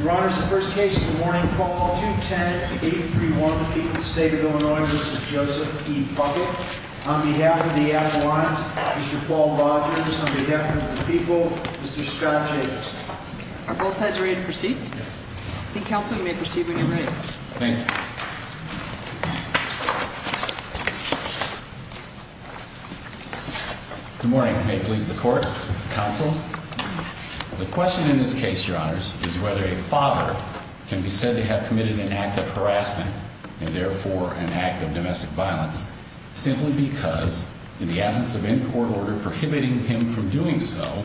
Your Honor, this is the first case of the morning. Call 210-831-8 in the state of Illinois v. Joseph E. Puckett. On behalf of the Admirals, Mr. Paul Rogers. On behalf of the people, Mr. Scott Jacobson. Are both sides ready to proceed? Yes. I think, Counsel, you may proceed when you're ready. Thank you. Good morning. May it please the Court, Counsel. The question in this case, Your Honors, is whether a father can be said to have committed an act of harassment, and therefore an act of domestic violence, simply because, in the absence of any court order prohibiting him from doing so,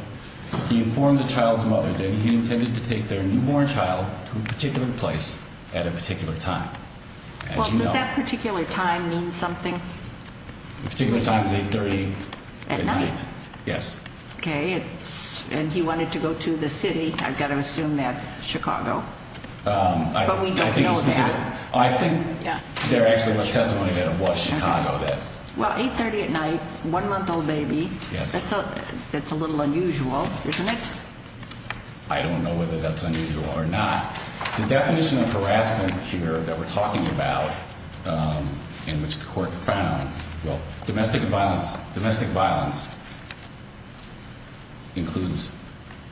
he informed the child's mother that he intended to take their newborn child to a particular place at a particular time. Well, does that particular time mean something? The particular time is 8.30 at night. At night? Yes. Okay, and he wanted to go to the city. I've got to assume that's Chicago. But we don't know that. I think there actually was testimony that it was Chicago. Well, 8.30 at night, one-month-old baby, that's a little unusual, isn't it? I don't know whether that's unusual or not. The definition of harassment here that we're talking about, in which the Court found, well, domestic violence includes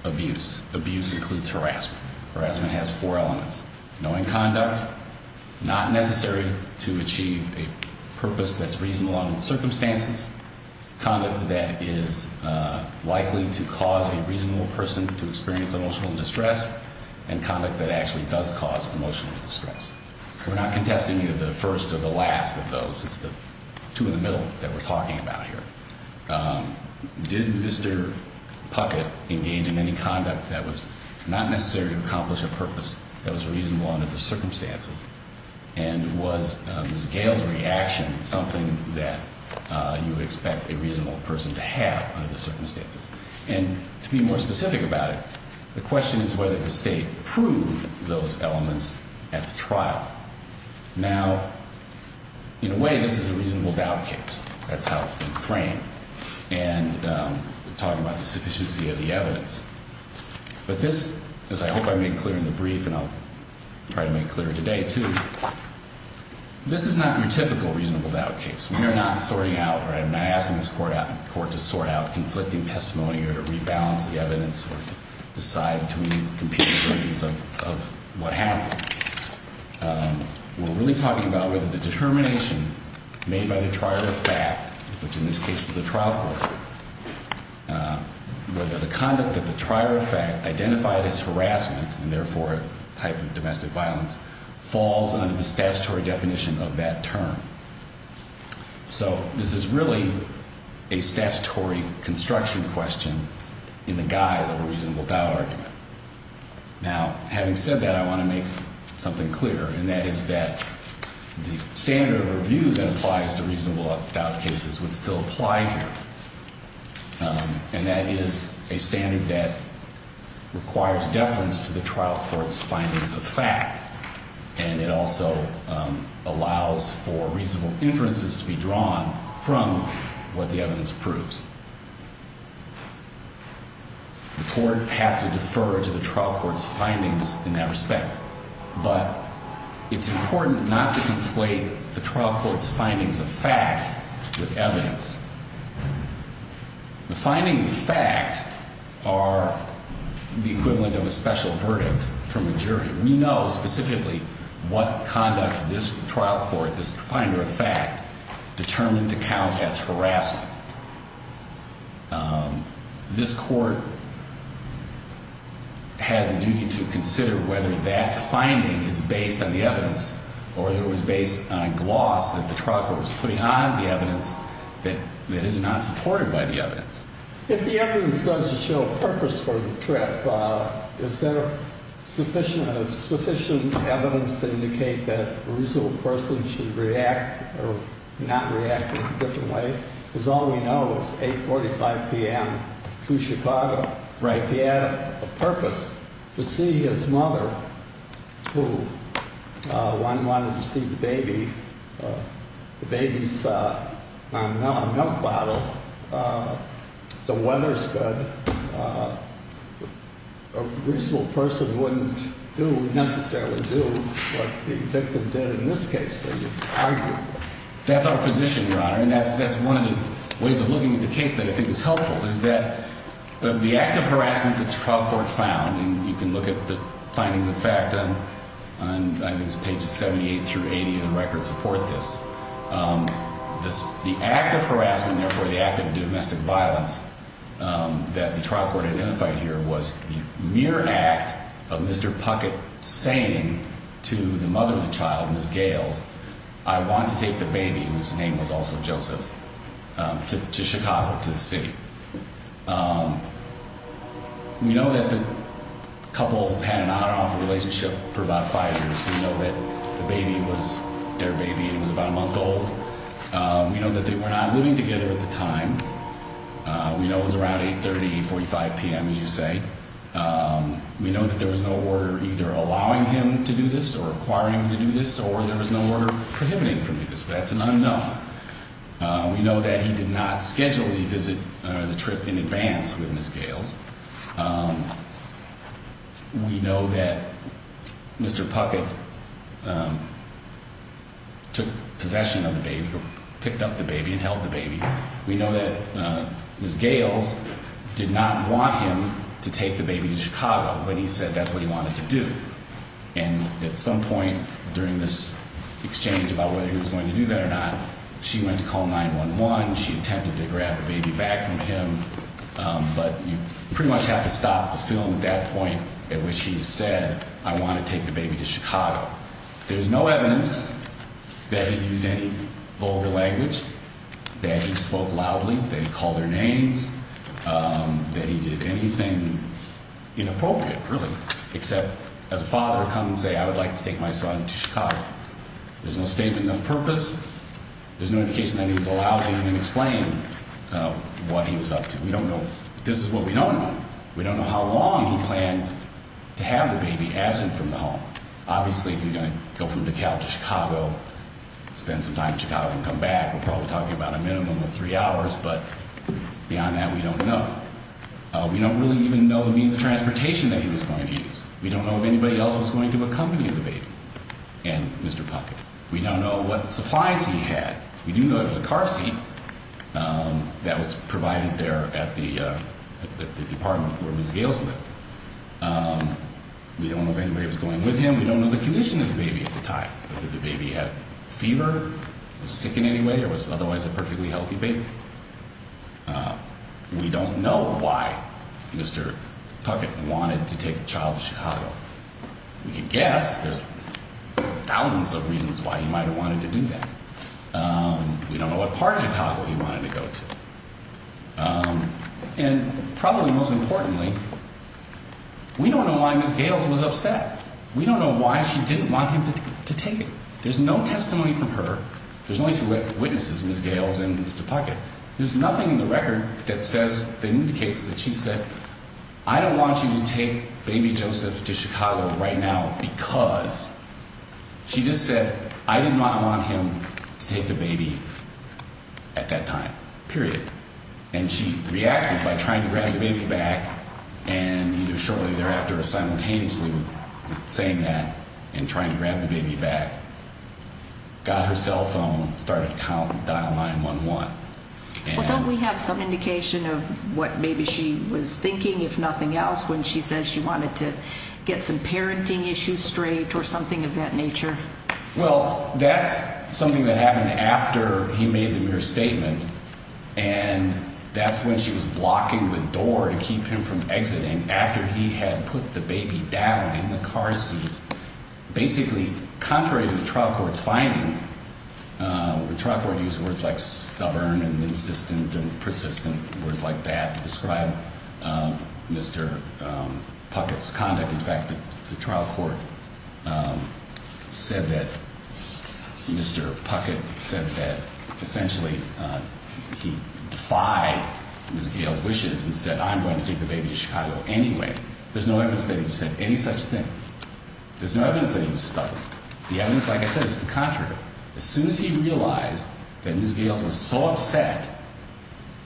abuse. Abuse includes harassment. Harassment has four elements. Knowing conduct, not necessary to achieve a purpose that's reasonable under the circumstances, conduct that is likely to cause a reasonable person to experience emotional distress, and conduct that actually does cause emotional distress. We're not contesting either the first or the last of those. It's the two in the middle that we're talking about here. Did Mr. Puckett engage in any conduct that was not necessary to accomplish a purpose that was reasonable under the circumstances? And was Ms. Gail's reaction something that you would expect a reasonable person to have under the circumstances? And to be more specific about it, the question is whether the State proved those elements at the trial. Now, in a way, this is a reasonable doubt case. That's how it's been framed. And we're talking about the sufficiency of the evidence. But this, as I hope I make clear in the brief, and I'll try to make clear today, too, this is not your typical reasonable doubt case. We are not sorting out, or I'm not asking this Court to sort out conflicting testimony or rebalance the evidence or decide between competing versions of what happened. We're really talking about whether the determination made by the trier of fact, which in this case was the trial court, whether the conduct that the trier of fact identified as harassment, and therefore a type of domestic violence, falls under the statutory definition of that term. So this is really a statutory construction question in the guise of a reasonable doubt argument. Now, having said that, I want to make something clear, and that is that the standard of review that applies to reasonable doubt cases would still apply here. And that is a standard that requires deference to the trial court's findings of fact, and it also allows for reasonable inferences to be drawn from what the evidence proves. The Court has to defer to the trial court's findings in that respect. But it's important not to conflate the trial court's findings of fact with evidence. The findings of fact are the equivalent of a special verdict from a jury. We know specifically what conduct this trial court, this finder of fact, determined to count as harassment. This Court has a duty to consider whether that finding is based on the evidence or whether it was based on a gloss that the trial court was putting on the evidence that is not supported by the evidence. If the evidence does show a purpose for the trip, is there sufficient evidence to indicate that a reasonable person should react or not react in a different way? Because all we know is 8.45 p.m. to Chicago. Right. If he had a purpose to see his mother, who one wanted to see the baby, the baby's on a milk bottle, the weather's good, a reasonable person wouldn't necessarily do what the victim did in this case. They would argue. That's our position, Your Honor. And that's one of the ways of looking at the case that I think is helpful, is that the act of harassment that the trial court found, and you can look at the findings of fact on, I think it's pages 78 through 80 of the record, support this. The act of harassment, therefore the act of domestic violence that the trial court identified here was the mere act of Mr. Puckett saying to the mother of the child, Ms. Gales, I want to take the baby, whose name was also Joseph, to Chicago, to the city. We know that the couple had an on-off relationship for about five years. We know that the baby was their baby, and it was about a month old. We know that they were not living together at the time. We know it was around 8.30, 8.45 p.m., as you say. We know that there was no order either allowing him to do this or requiring him to do this, or there was no order prohibiting him from doing this, but that's an unknown. We know that he did not schedule the visit, the trip in advance with Ms. Gales. We know that Mr. Puckett took possession of the baby, picked up the baby and held the baby. We know that Ms. Gales did not want him to take the baby to Chicago, but he said that's what he wanted to do. And at some point during this exchange about whether he was going to do that or not, she went to call 911. She attempted to grab the baby back from him, but you pretty much have to stop the film at that point at which he said, I want to take the baby to Chicago. There's no evidence that he used any vulgar language, that he spoke loudly, that he called their names, that he did anything inappropriate, really, except as a father come and say, I would like to take my son to Chicago. There's no statement of purpose. There's no indication that he was allowed to even explain what he was up to. We don't know. This is what we don't know. We don't know how long he planned to have the baby absent from the home. Obviously, if you're going to go from DeKalb to Chicago, spend some time in Chicago and come back, we're probably talking about a minimum of three hours, but beyond that, we don't know. We don't really even know the means of transportation that he was going to use. We don't know if anybody else was going to accompany the baby and Mr. Puckett. We don't know what supplies he had. We do know there was a car seat that was provided there at the apartment where Ms. Gales lived. We don't know if anybody was going with him. We don't know the condition of the baby at the time. Did the baby have fever, was sick in any way, or was otherwise a perfectly healthy baby? We don't know why Mr. Puckett wanted to take the child to Chicago. We can guess there's thousands of reasons why he might have wanted to do that. We don't know what part of Chicago he wanted to go to. And probably most importantly, we don't know why Ms. Gales was upset. We don't know why she didn't want him to take it. There's no testimony from her. There's only two witnesses, Ms. Gales and Mr. Puckett. There's nothing in the record that says, that indicates that she said, I don't want you to take baby Joseph to Chicago right now because, she just said, I did not want him to take the baby at that time, period. And she reacted by trying to grab the baby back, and either shortly thereafter or simultaneously with saying that and trying to grab the baby back, got her cell phone, started counting, dial 9-1-1. Well, don't we have some indication of what maybe she was thinking, if nothing else, when she says she wanted to get some parenting issues straight or something of that nature? Well, that's something that happened after he made the mere statement, and that's when she was blocking the door to keep him from exiting, after he had put the baby down in the car seat. Basically, contrary to the trial court's finding, the trial court used words like stubborn and insistent and persistent, words like that to describe Mr. Puckett's conduct. In fact, the trial court said that Mr. Puckett said that essentially he defied Ms. Gales' wishes and said, I'm going to take the baby to Chicago anyway. There's no evidence that he said any such thing. There's no evidence that he was stubborn. The evidence, like I said, is the contrary. As soon as he realized that Ms. Gales was so upset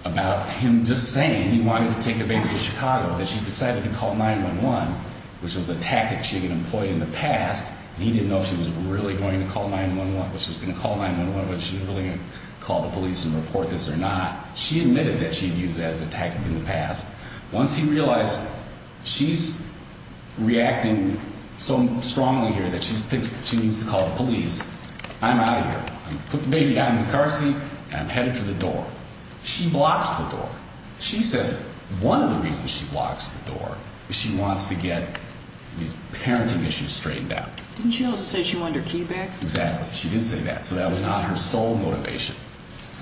about him just saying he wanted to take the baby to Chicago that she decided to call 9-1-1, which was a tactic she had employed in the past, and he didn't know if she was really going to call 9-1-1, whether she was going to call the police and report this or not, she admitted that she had used that as a tactic in the past. Once he realized she's reacting so strongly here that she thinks that she needs to call the police, I'm out of here. I'm going to put the baby down in the car seat, and I'm headed for the door. She blocks the door. She says one of the reasons she blocks the door is she wants to get these parenting issues straightened out. Didn't she also say she wanted her key back? Exactly. She did say that, so that was not her sole motivation.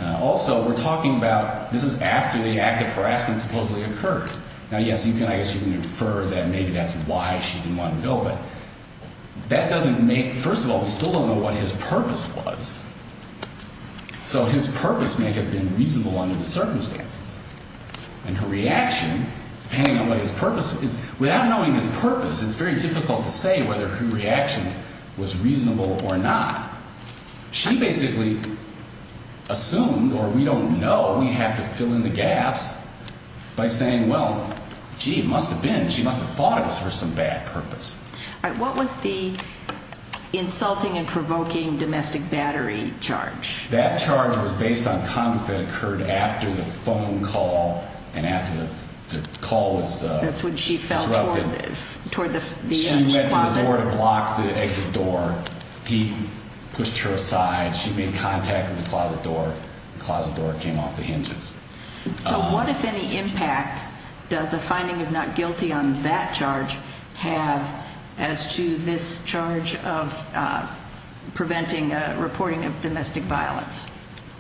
Also, we're talking about this is after the act of harassment supposedly occurred. Now, yes, I guess you can infer that maybe that's why she didn't want to go, but that doesn't make – first of all, we still don't know what his purpose was. So his purpose may have been reasonable under the circumstances. And her reaction, depending on what his purpose – without knowing his purpose, it's very difficult to say whether her reaction was reasonable or not. She basically assumed, or we don't know, we'd have to fill in the gaps by saying, well, gee, it must have been. She must have thought it was for some bad purpose. All right. What was the insulting and provoking domestic battery charge? That charge was based on conduct that occurred after the phone call and after the call was disrupted. That's when she fell toward the edge closet. She went to the door to block the exit door. He pushed her aside. She made contact with the closet door. The closet door came off the hinges. So what, if any, impact does a finding of not guilty on that charge have as to this charge of preventing reporting of domestic violence?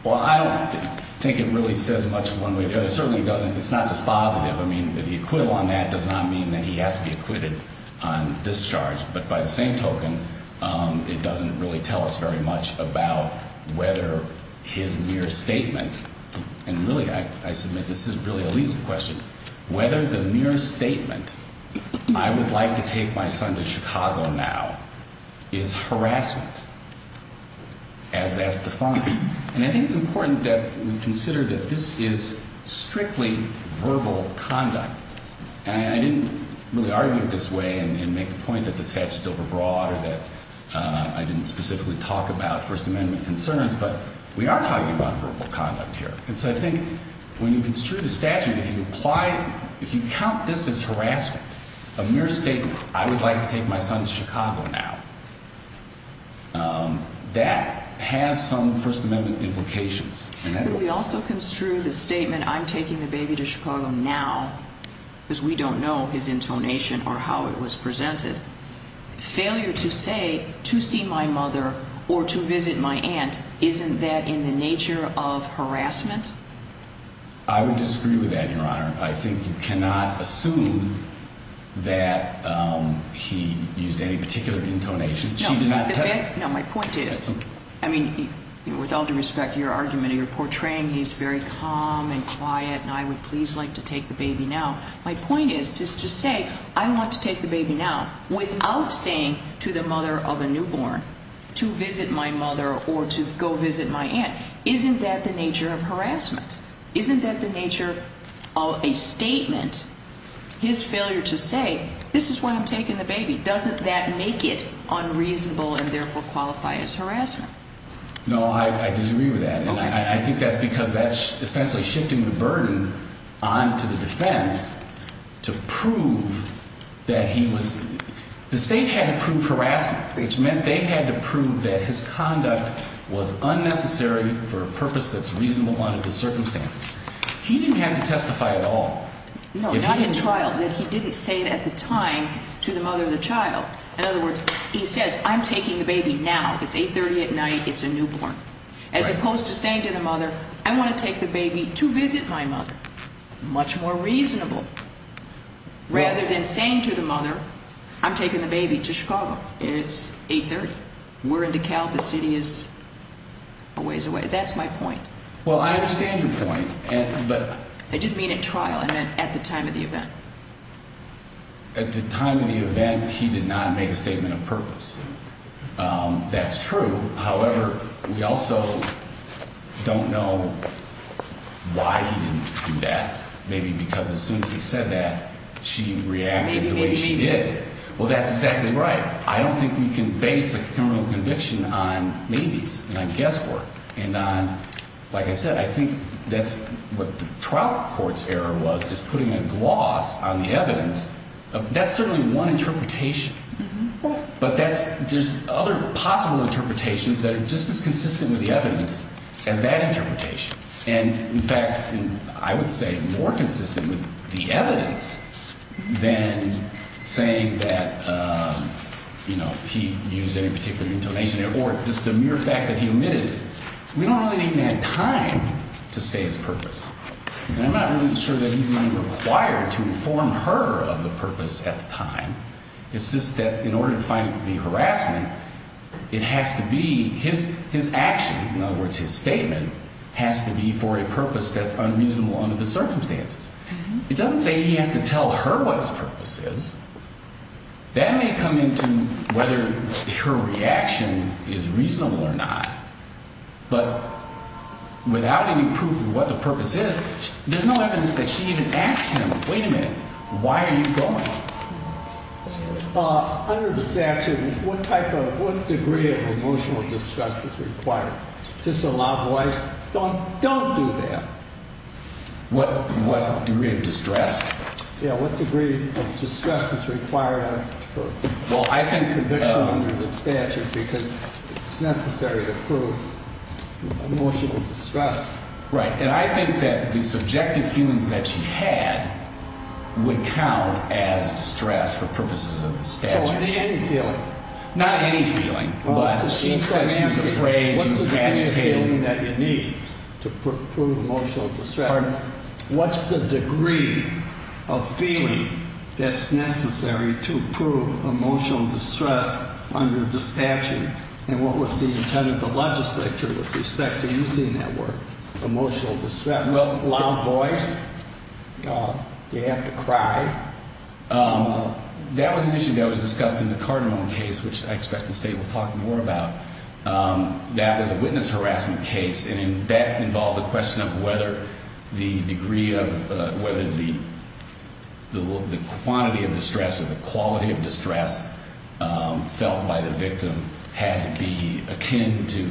Well, I don't think it really says much one way or the other. It certainly doesn't – it's not dispositive. I mean, the acquittal on that does not mean that he has to be acquitted on this charge. But by the same token, it doesn't really tell us very much about whether his mere statement – and really, I submit this is really a legal question – whether the mere statement, I would like to take my son to Chicago now, is harassment as that's defined. And I think it's important that we consider that this is strictly verbal conduct. And I didn't really argue it this way and make the point that the statute's overbroad or that I didn't specifically talk about First Amendment concerns, but we are talking about verbal conduct here. And so I think when you construe the statute, if you apply – if you count this as harassment, a mere statement, I would like to take my son to Chicago now, that has some First Amendment implications. But we also construe the statement, I'm taking the baby to Chicago now, because we don't know his intonation or how it was presented. Failure to say, to see my mother or to visit my aunt, isn't that in the nature of harassment? I would disagree with that, Your Honor. I think you cannot assume that he used any particular intonation. No, my point is, I mean, with all due respect to your argument, you're portraying he's very calm and quiet and I would please like to take the baby now. My point is just to say I want to take the baby now without saying to the mother of a newborn to visit my mother or to go visit my aunt. Isn't that the nature of harassment? Isn't that the nature of a statement, his failure to say, this is why I'm taking the baby? Doesn't that make it unreasonable and therefore qualify as harassment? No, I disagree with that. I think that's because that's essentially shifting the burden onto the defense to prove that he was – the state had to prove harassment, which meant they had to prove that his conduct was unnecessary for a purpose that's reasonable under the circumstances. He didn't have to testify at all. No, not at trial, that he didn't say it at the time to the mother of the child. In other words, he says, I'm taking the baby now. It's 8.30 at night. It's a newborn. As opposed to saying to the mother, I want to take the baby to visit my mother. Much more reasonable. Rather than saying to the mother, I'm taking the baby to Chicago. It's 8.30. We're in DeKalb. The city is a ways away. That's my point. Well, I understand your point. I didn't mean at trial. I meant at the time of the event. At the time of the event, he did not make a statement of purpose. That's true. However, we also don't know why he didn't do that. Maybe because as soon as he said that, she reacted the way she did. Maybe, maybe, maybe. Well, that's exactly right. I don't think we can base a criminal conviction on maybes and on guesswork. Like I said, I think that's what the trial court's error was, is putting a gloss on the evidence. That's certainly one interpretation. But there's other possible interpretations that are just as consistent with the evidence as that interpretation. And, in fact, I would say more consistent with the evidence than saying that he used any particular intonation. Or just the mere fact that he omitted it. We don't really even have time to say his purpose. And I'm not really sure that he's being required to inform her of the purpose at the time. It's just that in order to find it to be harassment, it has to be his action, in other words his statement, has to be for a purpose that's unreasonable under the circumstances. It doesn't say he has to tell her what his purpose is. That may come into whether her reaction is reasonable or not, but without any proof of what the purpose is, there's no evidence that she even asks him, wait a minute, why are you going? Under this action, what type of, what degree of emotional distress is required? Just a loud voice, don't do that. What degree of distress? Yeah, what degree of distress is required for conviction under the statute? Because it's necessary to prove emotional distress. Right. And I think that the subjective feelings that she had would count as distress for purposes of the statute. So any feeling? Not any feeling. But she said she's afraid, she's had some. What's the feeling that you need to prove emotional distress? Pardon? What's the degree of feeling that's necessary to prove emotional distress under the statute? And what was the intent of the legislature with respect to using that word, emotional distress? Well, loud voice. You have to cry. That was an issue that was discussed in the Carderon case, which I expect the State will talk more about. That was a witness harassment case, and that involved the question of whether the degree of, whether the quantity of distress or the quality of distress felt by the victim had to be akin to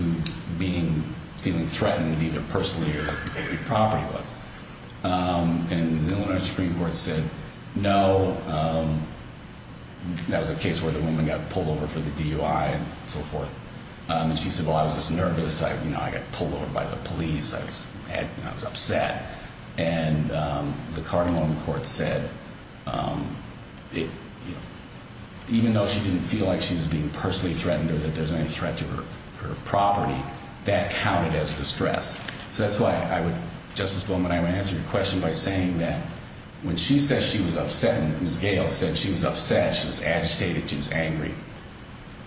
being, feeling threatened either personally or if it was property-wise. And the Illinois Supreme Court said no. That was a case where the woman got pulled over for the DUI and so forth. And she said, well, I was just nervous. I got pulled over by the police. I was upset. And the Carderon court said even though she didn't feel like she was being personally threatened or that there was any threat to her property, that counted as distress. So that's why I would, Justice Bowman, I would answer your question by saying that when she says she was upset and Ms. Gale said she was upset, she was agitated, she was angry,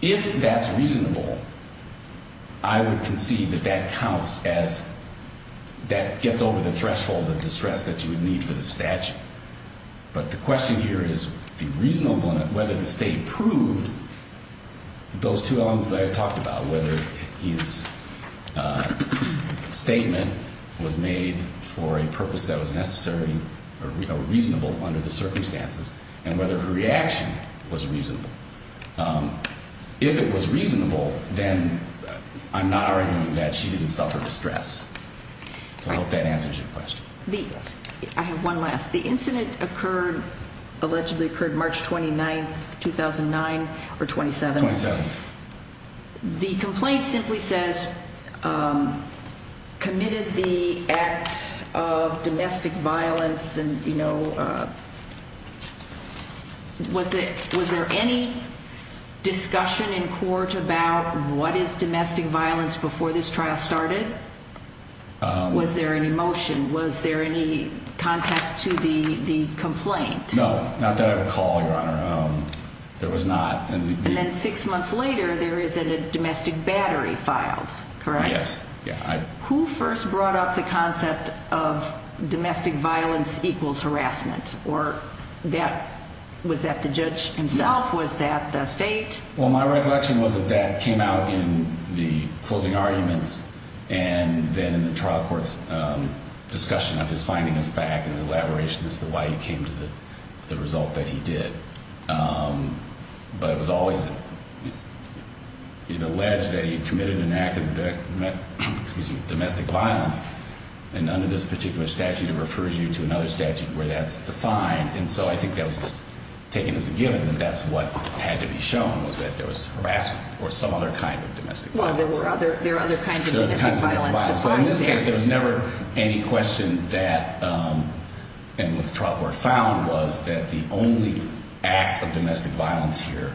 if that's reasonable, I would concede that that counts as, that gets over the threshold of distress that you would need for the statute. But the question here is the reasonableness, whether the State proved those two elements that I talked about, whether his statement was made for a purpose that was necessary or reasonable under the circumstances and whether her reaction was reasonable. If it was reasonable, then I'm not arguing that she didn't suffer distress. So I hope that answers your question. I have one last. The incident occurred, allegedly occurred March 29th, 2009 or 27th? 27th. The complaint simply says committed the act of domestic violence and, you know, was there any discussion in court about what is domestic violence before this trial started? Was there any motion? Was there any contest to the complaint? No, not that I recall, Your Honor. There was not. And then six months later, there is a domestic battery filed, correct? Yes. Who first brought up the concept of domestic violence equals harassment? Was that the judge himself? Was that the State? Well, my recollection was that that came out in the closing arguments and then in the trial court's discussion of his finding of fact and elaboration as to why he came to the result that he did. But it was always alleged that he committed an act of domestic violence and under this particular statute it refers you to another statute where that's defined. And so I think that was taken as a given that that's what had to be shown, was that there was harassment or some other kind of domestic violence. Well, there were other kinds of domestic violence defined. But in this case, there was never any question that, and what the trial court found was that the only act of domestic violence here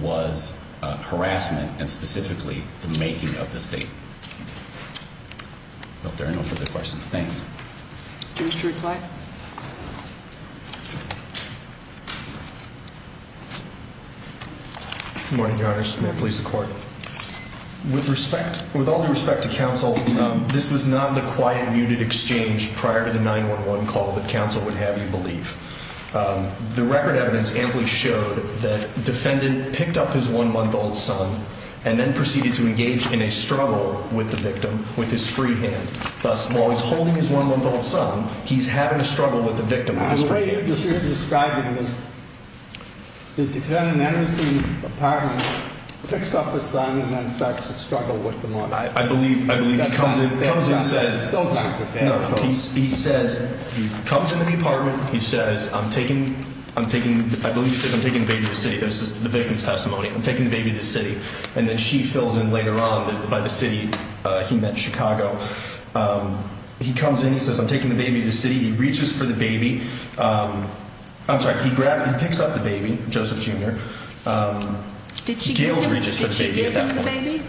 was harassment and specifically the making of the State. So if there are no further questions, thanks. Do you wish to reply? Good morning, Your Honor. May it please the Court. With all due respect to counsel, this was not the quiet, muted exchange prior to the 911 call that counsel would have, you believe. The record evidence amply showed that the defendant picked up his one-month-old son and then proceeded to engage in a struggle with the victim with his free hand. Thus, while he's holding his one-month-old son, he's having a struggle with the victim with his free hand. I'm afraid what you're describing is the defendant enters the apartment, picks up his son, and then starts to struggle with the mother. I believe he comes in and says, he comes into the apartment, he says, I believe he says, I'm taking the baby to the city. This is the victim's testimony. I'm taking the baby to the city. And then she fills in later on that by the city he meant Chicago. He comes in, he says, I'm taking the baby to the city. He reaches for the baby. I'm sorry, he picks up the baby, Joseph Jr. Did she give him the baby?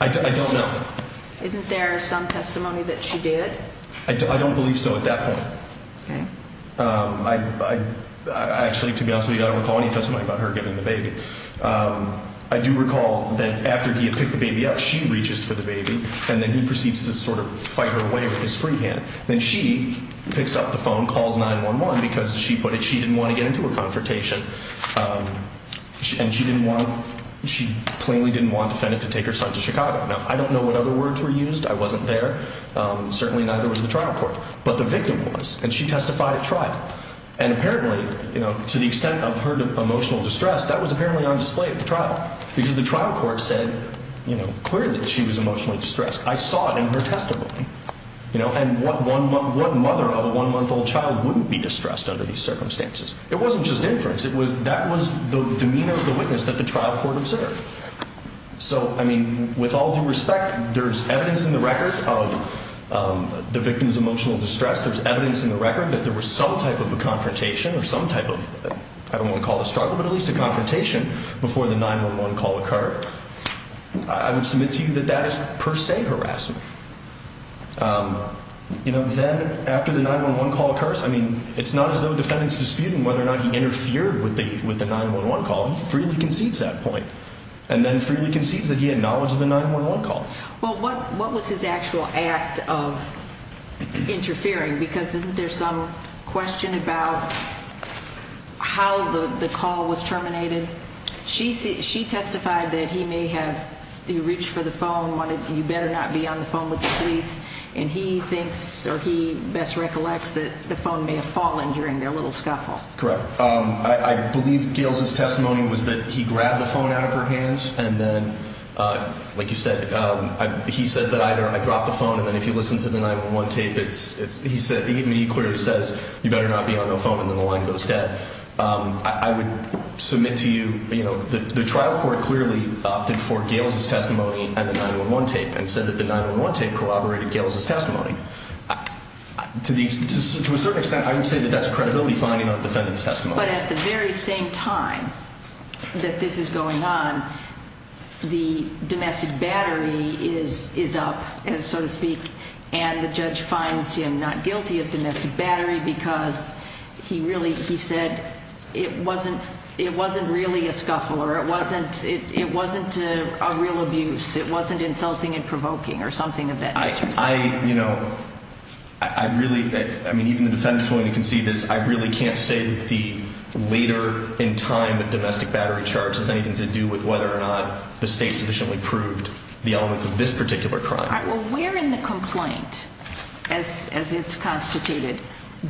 I don't know. Isn't there some testimony that she did? I don't believe so at that point. Okay. I actually, to be honest with you, I don't recall any testimony about her giving the baby. I do recall that after he had picked the baby up, she reaches for the baby, and then he proceeds to sort of fight her away with his free hand. Then she picks up the phone, calls 911, because she put it she didn't want to get into a confrontation. And she plainly didn't want a defendant to take her son to Chicago. Now, I don't know what other words were used. I wasn't there. Certainly neither was the trial court. But the victim was, and she testified at trial. And apparently, to the extent of her emotional distress, that was apparently on display at the trial, because the trial court said clearly she was emotionally distressed. I saw it in her testimony. And what mother of a one-month-old child wouldn't be distressed under these circumstances? It wasn't just inference. That was the demeanor of the witness that the trial court observed. So, I mean, with all due respect, there's evidence in the record of the victim's emotional distress. There's evidence in the record that there was some type of a confrontation or some type of, I don't want to call it a struggle, but at least a confrontation before the 911 call occurred. I would submit to you that that is per se harassment. You know, then after the 911 call occurs, I mean, it's not as though the defendant is disputing whether or not he interfered with the 911 call. He freely concedes that point. And then freely concedes that he had knowledge of the 911 call. Well, what was his actual act of interfering? Because isn't there some question about how the call was terminated? She testified that he may have reached for the phone, wanted, you better not be on the phone with the police, and he thinks or he best recollects that the phone may have fallen during their little scuffle. Correct. I believe Gail's testimony was that he grabbed the phone out of her hands, and then, like you said, he says that either I dropped the phone, and then if you listen to the 911 tape, he clearly says, you better not be on the phone, and then the line goes dead. I would submit to you, you know, the trial court clearly opted for Gail's testimony and the 911 tape and said that the 911 tape corroborated Gail's testimony. To a certain extent, I would say that that's a credibility finding on the defendant's testimony. But at the very same time that this is going on, the domestic battery is up, so to speak, and the judge finds him not guilty of domestic battery because he said it wasn't really a scuffle or it wasn't a real abuse. It wasn't insulting and provoking or something of that nature. I, you know, I really, I mean, even the defendant is willing to concede this. I really can't say that the later in time that domestic battery charge has anything to do with whether or not the state sufficiently proved the elements of this particular crime. Well, where in the complaint, as it's constituted,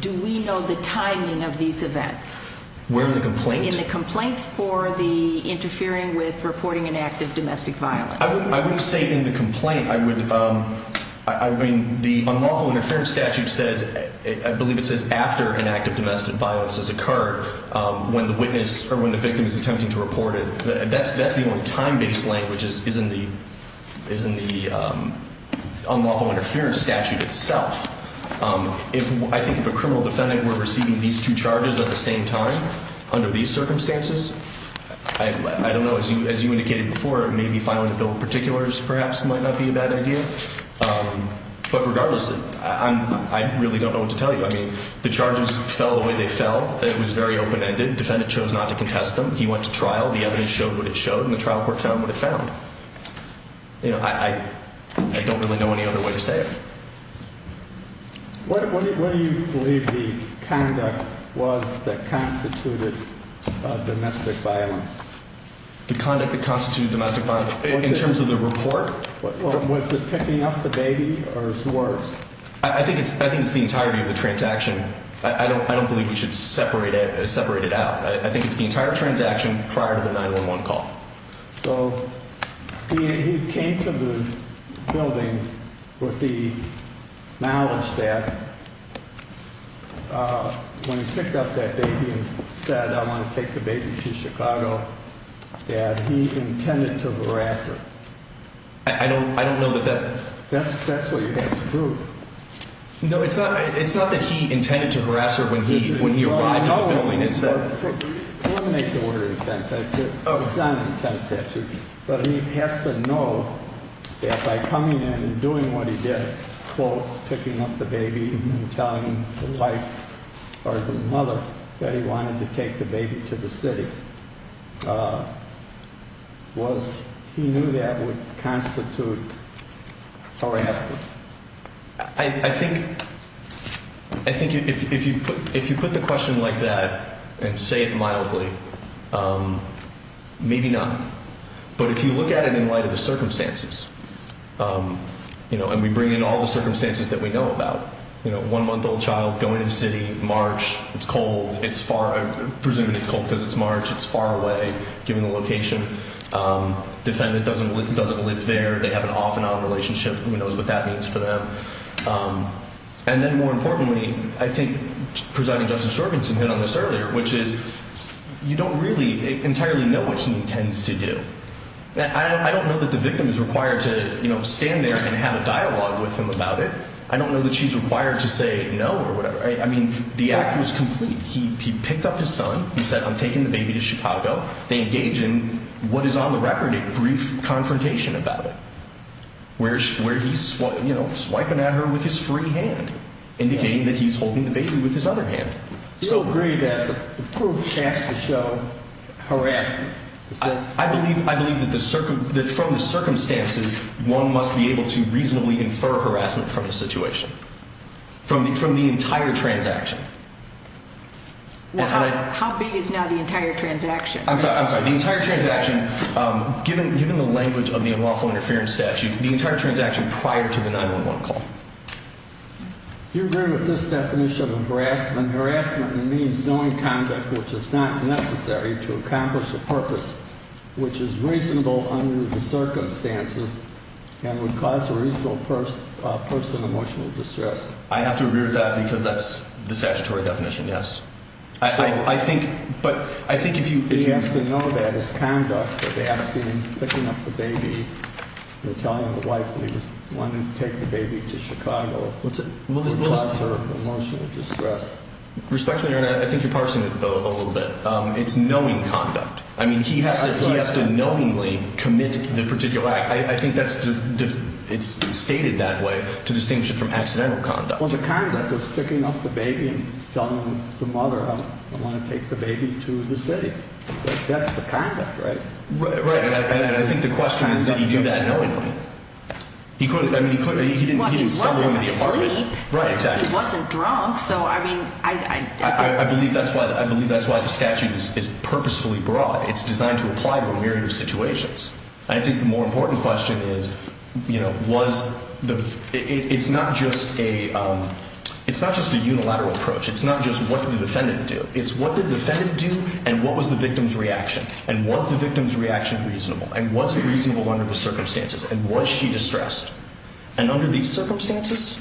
do we know the timing of these events? Where in the complaint? In the complaint for the interfering with reporting an act of domestic violence. I wouldn't say in the complaint. I would, I mean, the unlawful interference statute says, I believe it says after an act of domestic violence has occurred, when the witness or when the victim is attempting to report it. That's the only time-based language is in the unlawful interference statute itself. I think if a criminal defendant were receiving these two charges at the same time under these circumstances, I don't know, as you indicated before, maybe filing a bill of particulars perhaps might not be a bad idea. But regardless, I really don't know what to tell you. I mean, the charges fell the way they fell. It was very open-ended. Defendant chose not to contest them. He went to trial. The evidence showed what it showed, and the trial court found what it found. You know, I don't really know any other way to say it. What do you believe the conduct was that constituted domestic violence? The conduct that constituted domestic violence? In terms of the report? Was it picking up the baby or was it worse? I think it's the entirety of the transaction. I don't believe we should separate it out. I think it's the entire transaction prior to the 911 call. So he came to the building with the knowledge that when he picked up that baby and said, I want to take the baby to Chicago, that he intended to harass her. I don't know that that — That's what you have to prove. No, it's not that he intended to harass her when he arrived in the building. Let me make the word intent. It's not an intent statute. But he has to know that by coming in and doing what he did, quote, picking up the baby and telling the wife or the mother that he wanted to take the baby to the city, he knew that would constitute harassing. I think if you put the question like that and say it mildly, maybe not. But if you look at it in light of the circumstances, and we bring in all the circumstances that we know about, one-month-old child going to the city, March, it's cold. I'm presuming it's cold because it's March. It's far away given the location. Defendant doesn't live there. They have an off-and-on relationship. Who knows what that means for them. And then more importantly, I think Presiding Justice Jorgensen hit on this earlier, which is you don't really entirely know what he intends to do. I don't know that the victim is required to stand there and have a dialogue with him about it. I don't know that she's required to say no or whatever. I mean, the act was complete. He picked up his son. He said, I'm taking the baby to Chicago. They engage in what is on the record a brief confrontation about it. Where he's swiping at her with his free hand, indicating that he's holding the baby with his other hand. You agree that the proof has to show harassment. I believe that from the circumstances, one must be able to reasonably infer harassment from the situation, from the entire transaction. How big is now the entire transaction? I'm sorry. The entire transaction, given the language of the Unlawful Interference Statute, the entire transaction prior to the 911 call. Do you agree with this definition of harassment? Harassment means knowing conduct which is not necessary to accomplish a purpose, which is reasonable under the circumstances and would cause a reasonable person emotional distress. I have to agree with that because that's the statutory definition, yes. I think, but I think if you He has to know that his conduct of asking, picking up the baby, telling the wife that he wanted to take the baby to Chicago, would cause her emotional distress. Respectfully, Your Honor, I think you're parsing it a little bit. It's knowing conduct. I mean, he has to knowingly commit the particular act. I think that's, it's stated that way to distinguish it from accidental conduct. Well, the conduct is picking up the baby and telling the mother, I want to take the baby to the city. That's the conduct, right? Right, and I think the question is, did he do that knowingly? He couldn't, I mean, he couldn't, he didn't suffer in the apartment. Well, he wasn't asleep. Right, exactly. He wasn't drunk, so, I mean, I I believe that's why, I believe that's why the statute is purposefully broad. It's designed to apply to a myriad of situations. I think the more important question is, you know, was the, it's not just a, it's not just a unilateral approach. It's not just what the defendant did. It's what the defendant did and what was the victim's reaction. And was the victim's reaction reasonable? And was it reasonable under the circumstances? And was she distressed? And under these circumstances?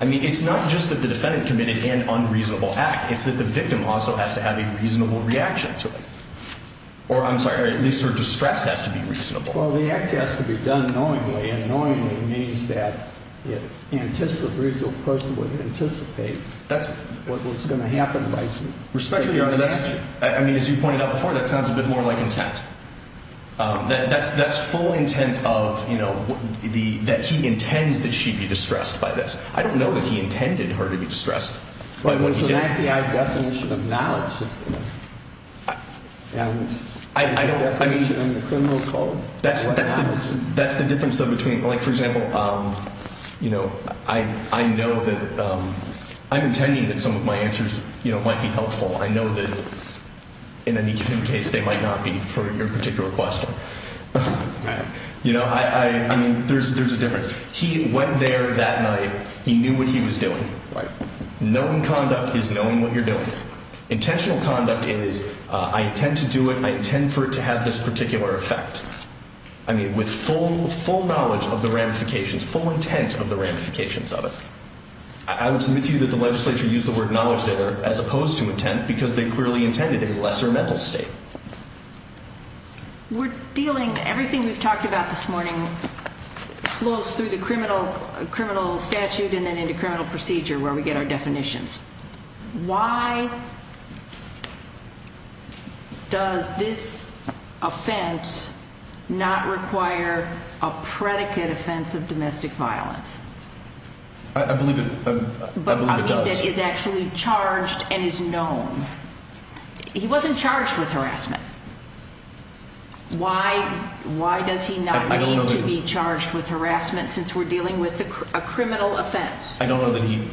I mean, it's not just that the defendant committed an unreasonable act. It's that the victim also has to have a reasonable reaction to it. Or, I'm sorry, at least her distress has to be reasonable. Well, the act has to be done knowingly. And knowingly means that it anticipates, the person would anticipate what was going to happen. Respectfully, Your Honor, that's, I mean, as you pointed out before, that sounds a bit more like intent. That's full intent of, you know, that he intends that she be distressed by this. But it was an FBI definition of knowledge. It was a definition of the criminal code. That's the difference, though, between, like, for example, you know, I know that, I'm intending that some of my answers, you know, might be helpful. I know that in any given case they might not be for your particular question. You know, I mean, there's a difference. He went there that night. He knew what he was doing. Knowing conduct is knowing what you're doing. Intentional conduct is I intend to do it. I intend for it to have this particular effect. I mean, with full knowledge of the ramifications, full intent of the ramifications of it. I would submit to you that the legislature used the word knowledge there as opposed to intent because they clearly intended a lesser mental state. We're dealing, everything we've talked about this morning flows through the criminal statute and then into criminal procedure where we get our definitions. Why does this offense not require a predicate offense of domestic violence? I believe it does. But I mean that is actually charged and is known. He wasn't charged with harassment. Why does he not need to be charged with harassment since we're dealing with a criminal offense? I don't know that he...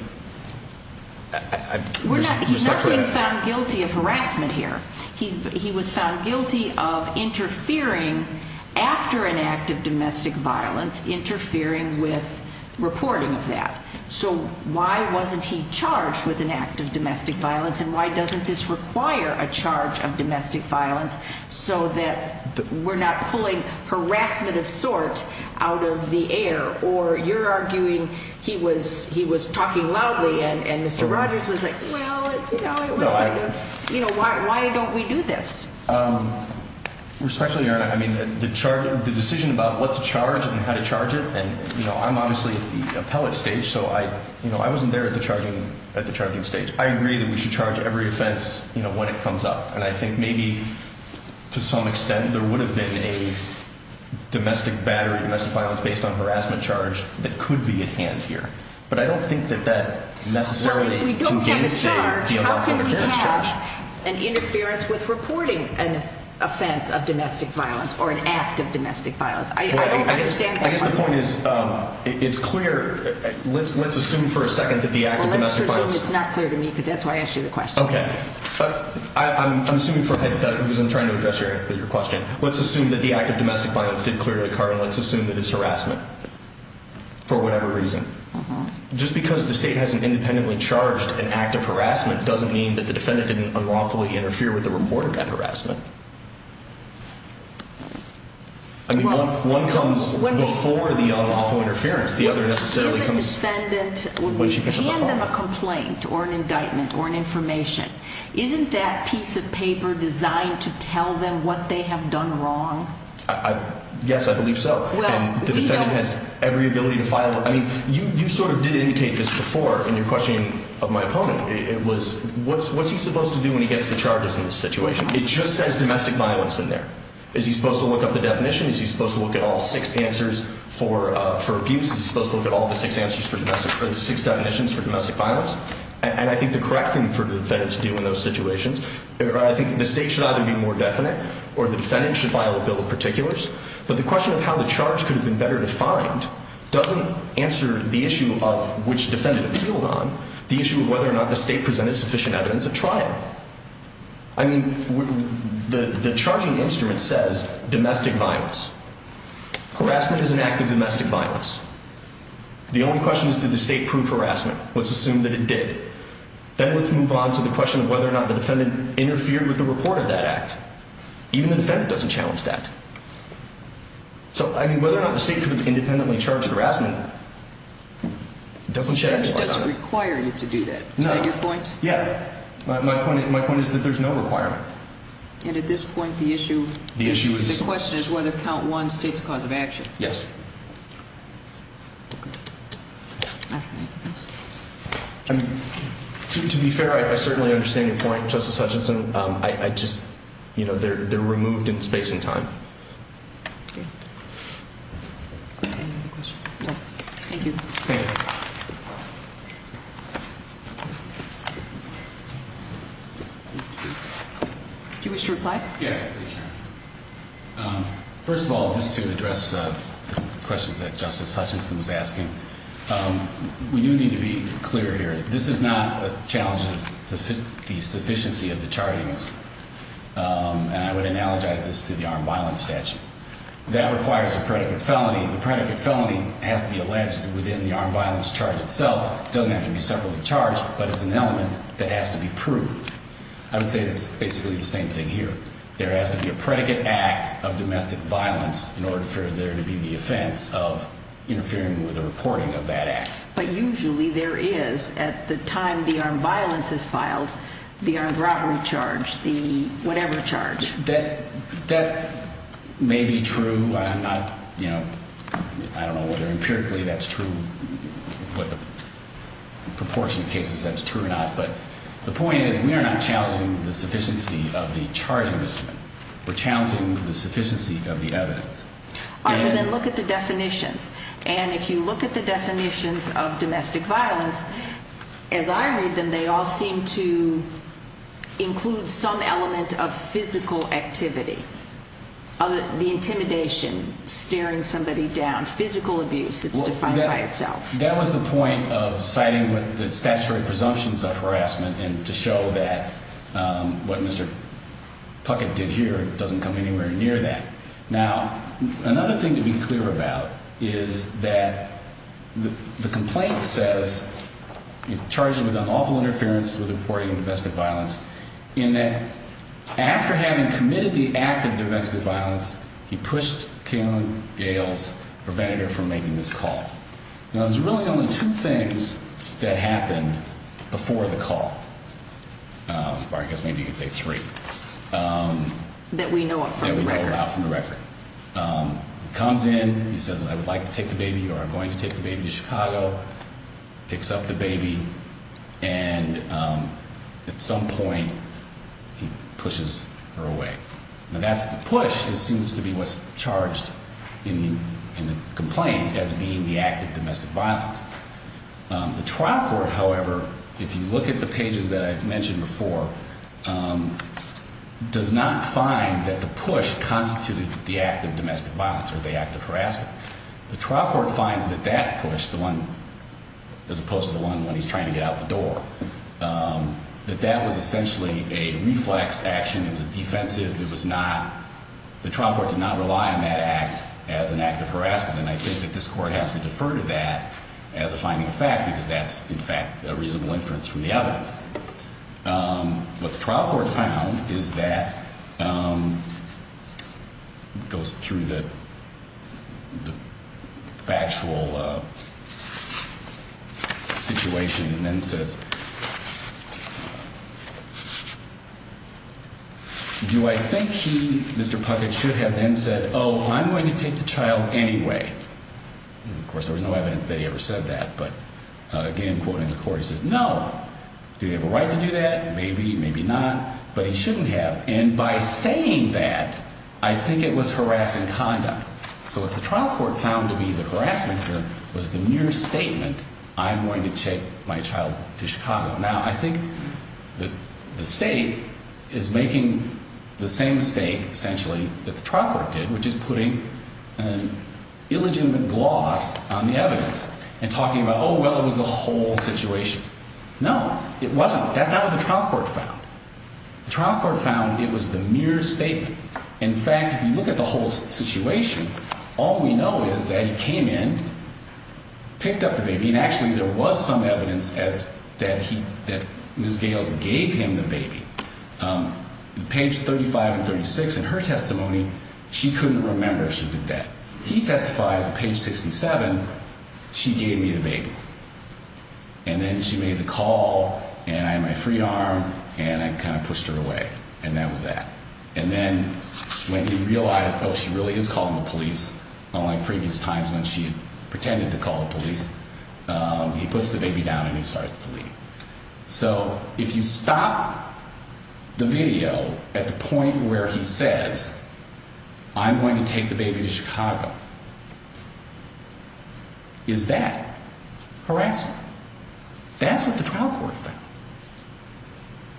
He's not being found guilty of harassment here. He was found guilty of interfering after an act of domestic violence, interfering with reporting of that. So why wasn't he charged with an act of domestic violence? And why doesn't this require a charge of domestic violence so that we're not pulling harassment of sorts out of the air? Or you're arguing he was talking loudly and Mr. Rogers was like, well, you know, why don't we do this? Respectfully, Your Honor, I mean the decision about what to charge and how to charge it, and I'm obviously at the appellate stage, so I wasn't there at the charging stage. I agree that we should charge every offense when it comes up, and I think maybe to some extent there would have been a domestic battery, domestic violence based on harassment charge that could be at hand here. But I don't think that that necessarily... Well, if we don't have a charge, how can we have an interference with reporting an offense of domestic violence or an act of domestic violence? I don't understand that. I guess the point is it's clear. Let's assume for a second that the act of domestic violence... Well, let's assume it's not clear to me because that's why I asked you the question. Okay. I'm assuming for a hypothetical reason trying to address your question. Let's assume that the act of domestic violence did clear the card, and let's assume that it's harassment for whatever reason. Just because the state hasn't independently charged an act of harassment doesn't mean that the defendant didn't unlawfully interfere with the report of that harassment. I mean, one comes before the unlawful interference. The other necessarily comes when she picks up the phone. When we hand them a complaint or an indictment or an information, isn't that piece of paper designed to tell them what they have done wrong? Yes, I believe so. And the defendant has every ability to file it. I mean, you sort of did indicate this before in your question of my opponent. It was what's he supposed to do when he gets the charges in this situation? It just says domestic violence in there. Is he supposed to look up the definition? Is he supposed to look at all six answers for abuse? Is he supposed to look at all the six definitions for domestic violence? And I think the correct thing for the defendant to do in those situations, I think the state should either be more definite or the defendant should file a bill of particulars. But the question of how the charge could have been better defined doesn't answer the issue of which defendant appealed on, the issue of whether or not the state presented sufficient evidence of trial. I mean, the charging instrument says domestic violence. Harassment is an act of domestic violence. The only question is did the state prove harassment? Let's assume that it did. Then let's move on to the question of whether or not the defendant interfered with the report of that act. Even the defendant doesn't challenge that. So, I mean, whether or not the state could have independently charged harassment doesn't shed any light on that. The judge doesn't require you to do that. No. Is that your point? Yeah. My point is that there's no requirement. And at this point, the issue is, the question is whether count one states cause of action. Yes. To be fair, I certainly understand your point, Justice Hutchinson. I just, you know, they're removed in space and time. Thank you. Thank you. Do you wish to reply? Yes. First of all, just to address the questions that Justice Hutchinson was asking, we do need to be clear here. This is not a challenge to the sufficiency of the charting instrument. And I would analogize this to the armed violence statute. That requires a predicate felony. The predicate felony has to be alleged within the armed violence charge itself. It doesn't have to be separately charged, but it's an element that has to be proved. I would say it's basically the same thing here. There has to be a predicate act of domestic violence in order for there to be the offense of interfering with a reporting of that act. But usually there is at the time the armed violence is filed, the armed robbery charge, the whatever charge. That may be true. I'm not, you know, I don't know whether empirically that's true, what the proportion of cases that's true or not. But the point is we are not challenging the sufficiency of the charting instrument. We're challenging the sufficiency of the evidence. All right, but then look at the definitions. And if you look at the definitions of domestic violence, as I read them, they all seem to include some element of physical activity. The intimidation, staring somebody down, physical abuse, it's defined by itself. That was the point of citing the statutory presumptions of harassment and to show that what Mr. Puckett did here doesn't come anywhere near that. Now, another thing to be clear about is that the complaint says he's charged with unlawful interference with reporting of domestic violence. And that after having committed the act of domestic violence, he pushed Kaylin Gales, prevented her from making this call. Now, there's really only two things that happened before the call. Or I guess maybe you could say three. That we know of from the record. That we know of from the record. Comes in, he says, I would like to take the baby or I'm going to take the baby to Chicago. Picks up the baby, and at some point he pushes her away. Now, that push seems to be what's charged in the complaint as being the act of domestic violence. The trial court, however, if you look at the pages that I mentioned before, does not find that the push constituted the act of domestic violence or the act of harassment. The trial court finds that that push, the one as opposed to the one when he's trying to get out the door, that that was essentially a reflex action. It was defensive. It was not, the trial court did not rely on that act as an act of harassment. And I think that this court has to defer to that as a finding of fact because that's, in fact, a reasonable inference from the evidence. What the trial court found is that, goes through the factual situation and then says, Do I think he, Mr. Puckett, should have then said, oh, I'm going to take the child anyway? Of course, there was no evidence that he ever said that. But again, quoting the court, he says, no. Do you have a right to do that? Maybe, maybe not. But he shouldn't have. And by saying that, I think it was harassing conduct. So what the trial court found to be the harassment here was the mere statement, I'm going to take my child to Chicago. Now, I think that the state is making the same mistake, essentially, that the trial court did, which is putting an illegitimate gloss on the evidence and talking about, oh, well, it was the whole situation. No, it wasn't. That's not what the trial court found. The trial court found it was the mere statement. In fact, if you look at the whole situation, all we know is that he came in, picked up the baby, and actually there was some evidence that he, that Ms. Gales gave him the baby. Page 35 and 36 in her testimony, she couldn't remember if she did that. He testifies, page 67, she gave me the baby. And then she made the call, and I had my free arm, and I kind of pushed her away. And that was that. And then when he realized, oh, she really is calling the police, unlike previous times when she had pretended to call the police, he puts the baby down and he starts to leave. So if you stop the video at the point where he says, I'm going to take the baby to Chicago, is that harassment? That's what the trial court found.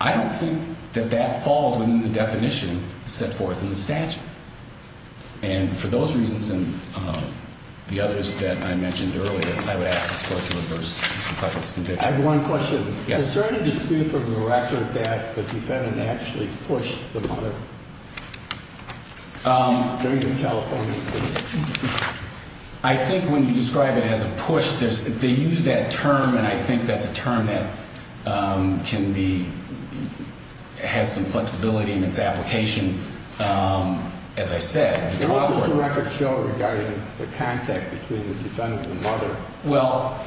I don't think that that falls within the definition set forth in the statute. And for those reasons and the others that I mentioned earlier, I would ask this court to reverse Mr. Cleffitt's conviction. I have one question. Yes. Is there any dispute for the record that the defendant actually pushed the mother during the California incident? I think when you describe it as a push, they use that term, and I think that's a term that has some flexibility in its application, as I said. What does the record show regarding the contact between the defendant and the mother? Well,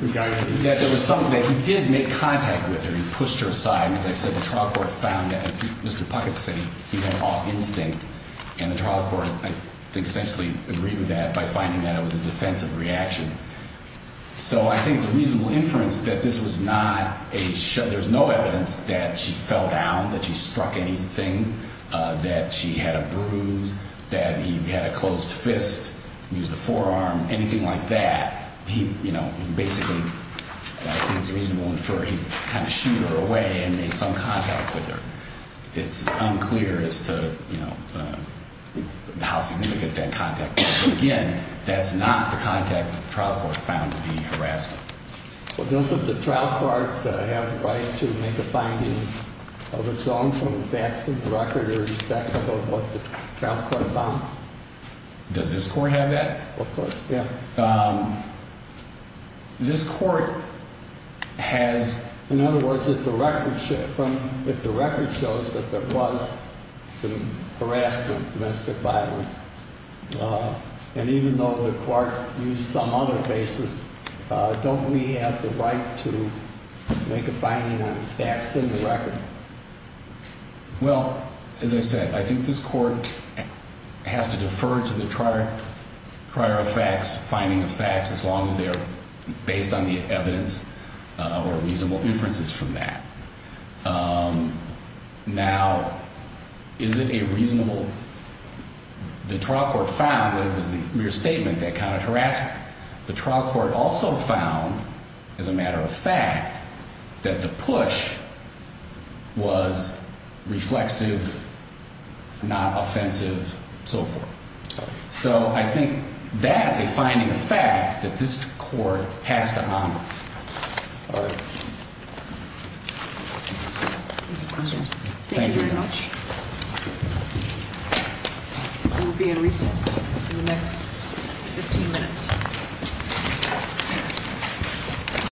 that there was something that he did make contact with her. He pushed her aside. As I said, the trial court found that Mr. Puckett said he went off instinct, and the trial court, I think, essentially agreed with that by finding that it was a defensive reaction. So I think it's a reasonable inference that this was not a show. There's no evidence that she fell down, that she struck anything, that she had a bruise, that he had a closed fist, used a forearm, anything like that. He, you know, basically, I think it's reasonable to infer he kind of shooed her away and made some contact with her. It's unclear as to, you know, how significant that contact was. Again, that's not the contact that the trial court found to be harassment. Does the trial court have the right to make a finding of its own from the facts of the record in respect of what the trial court found? Does this court have that? Of course, yeah. This court has, in other words, if the record shows that there was harassment, domestic violence, and even though the clerk used some other basis, don't we have the right to make a finding on facts in the record? Well, as I said, I think this court has to defer to the prior facts, finding of facts, as long as they're based on the evidence or reasonable inferences from that. Now, is it a reasonable? The trial court found that it was the mere statement that counted harassment. The trial court also found, as a matter of fact, that the push was reflexive, not offensive, and so forth. So I think that's a finding of fact that this court has to honor. All right. Thank you very much. We'll be in recess in the next 15 minutes.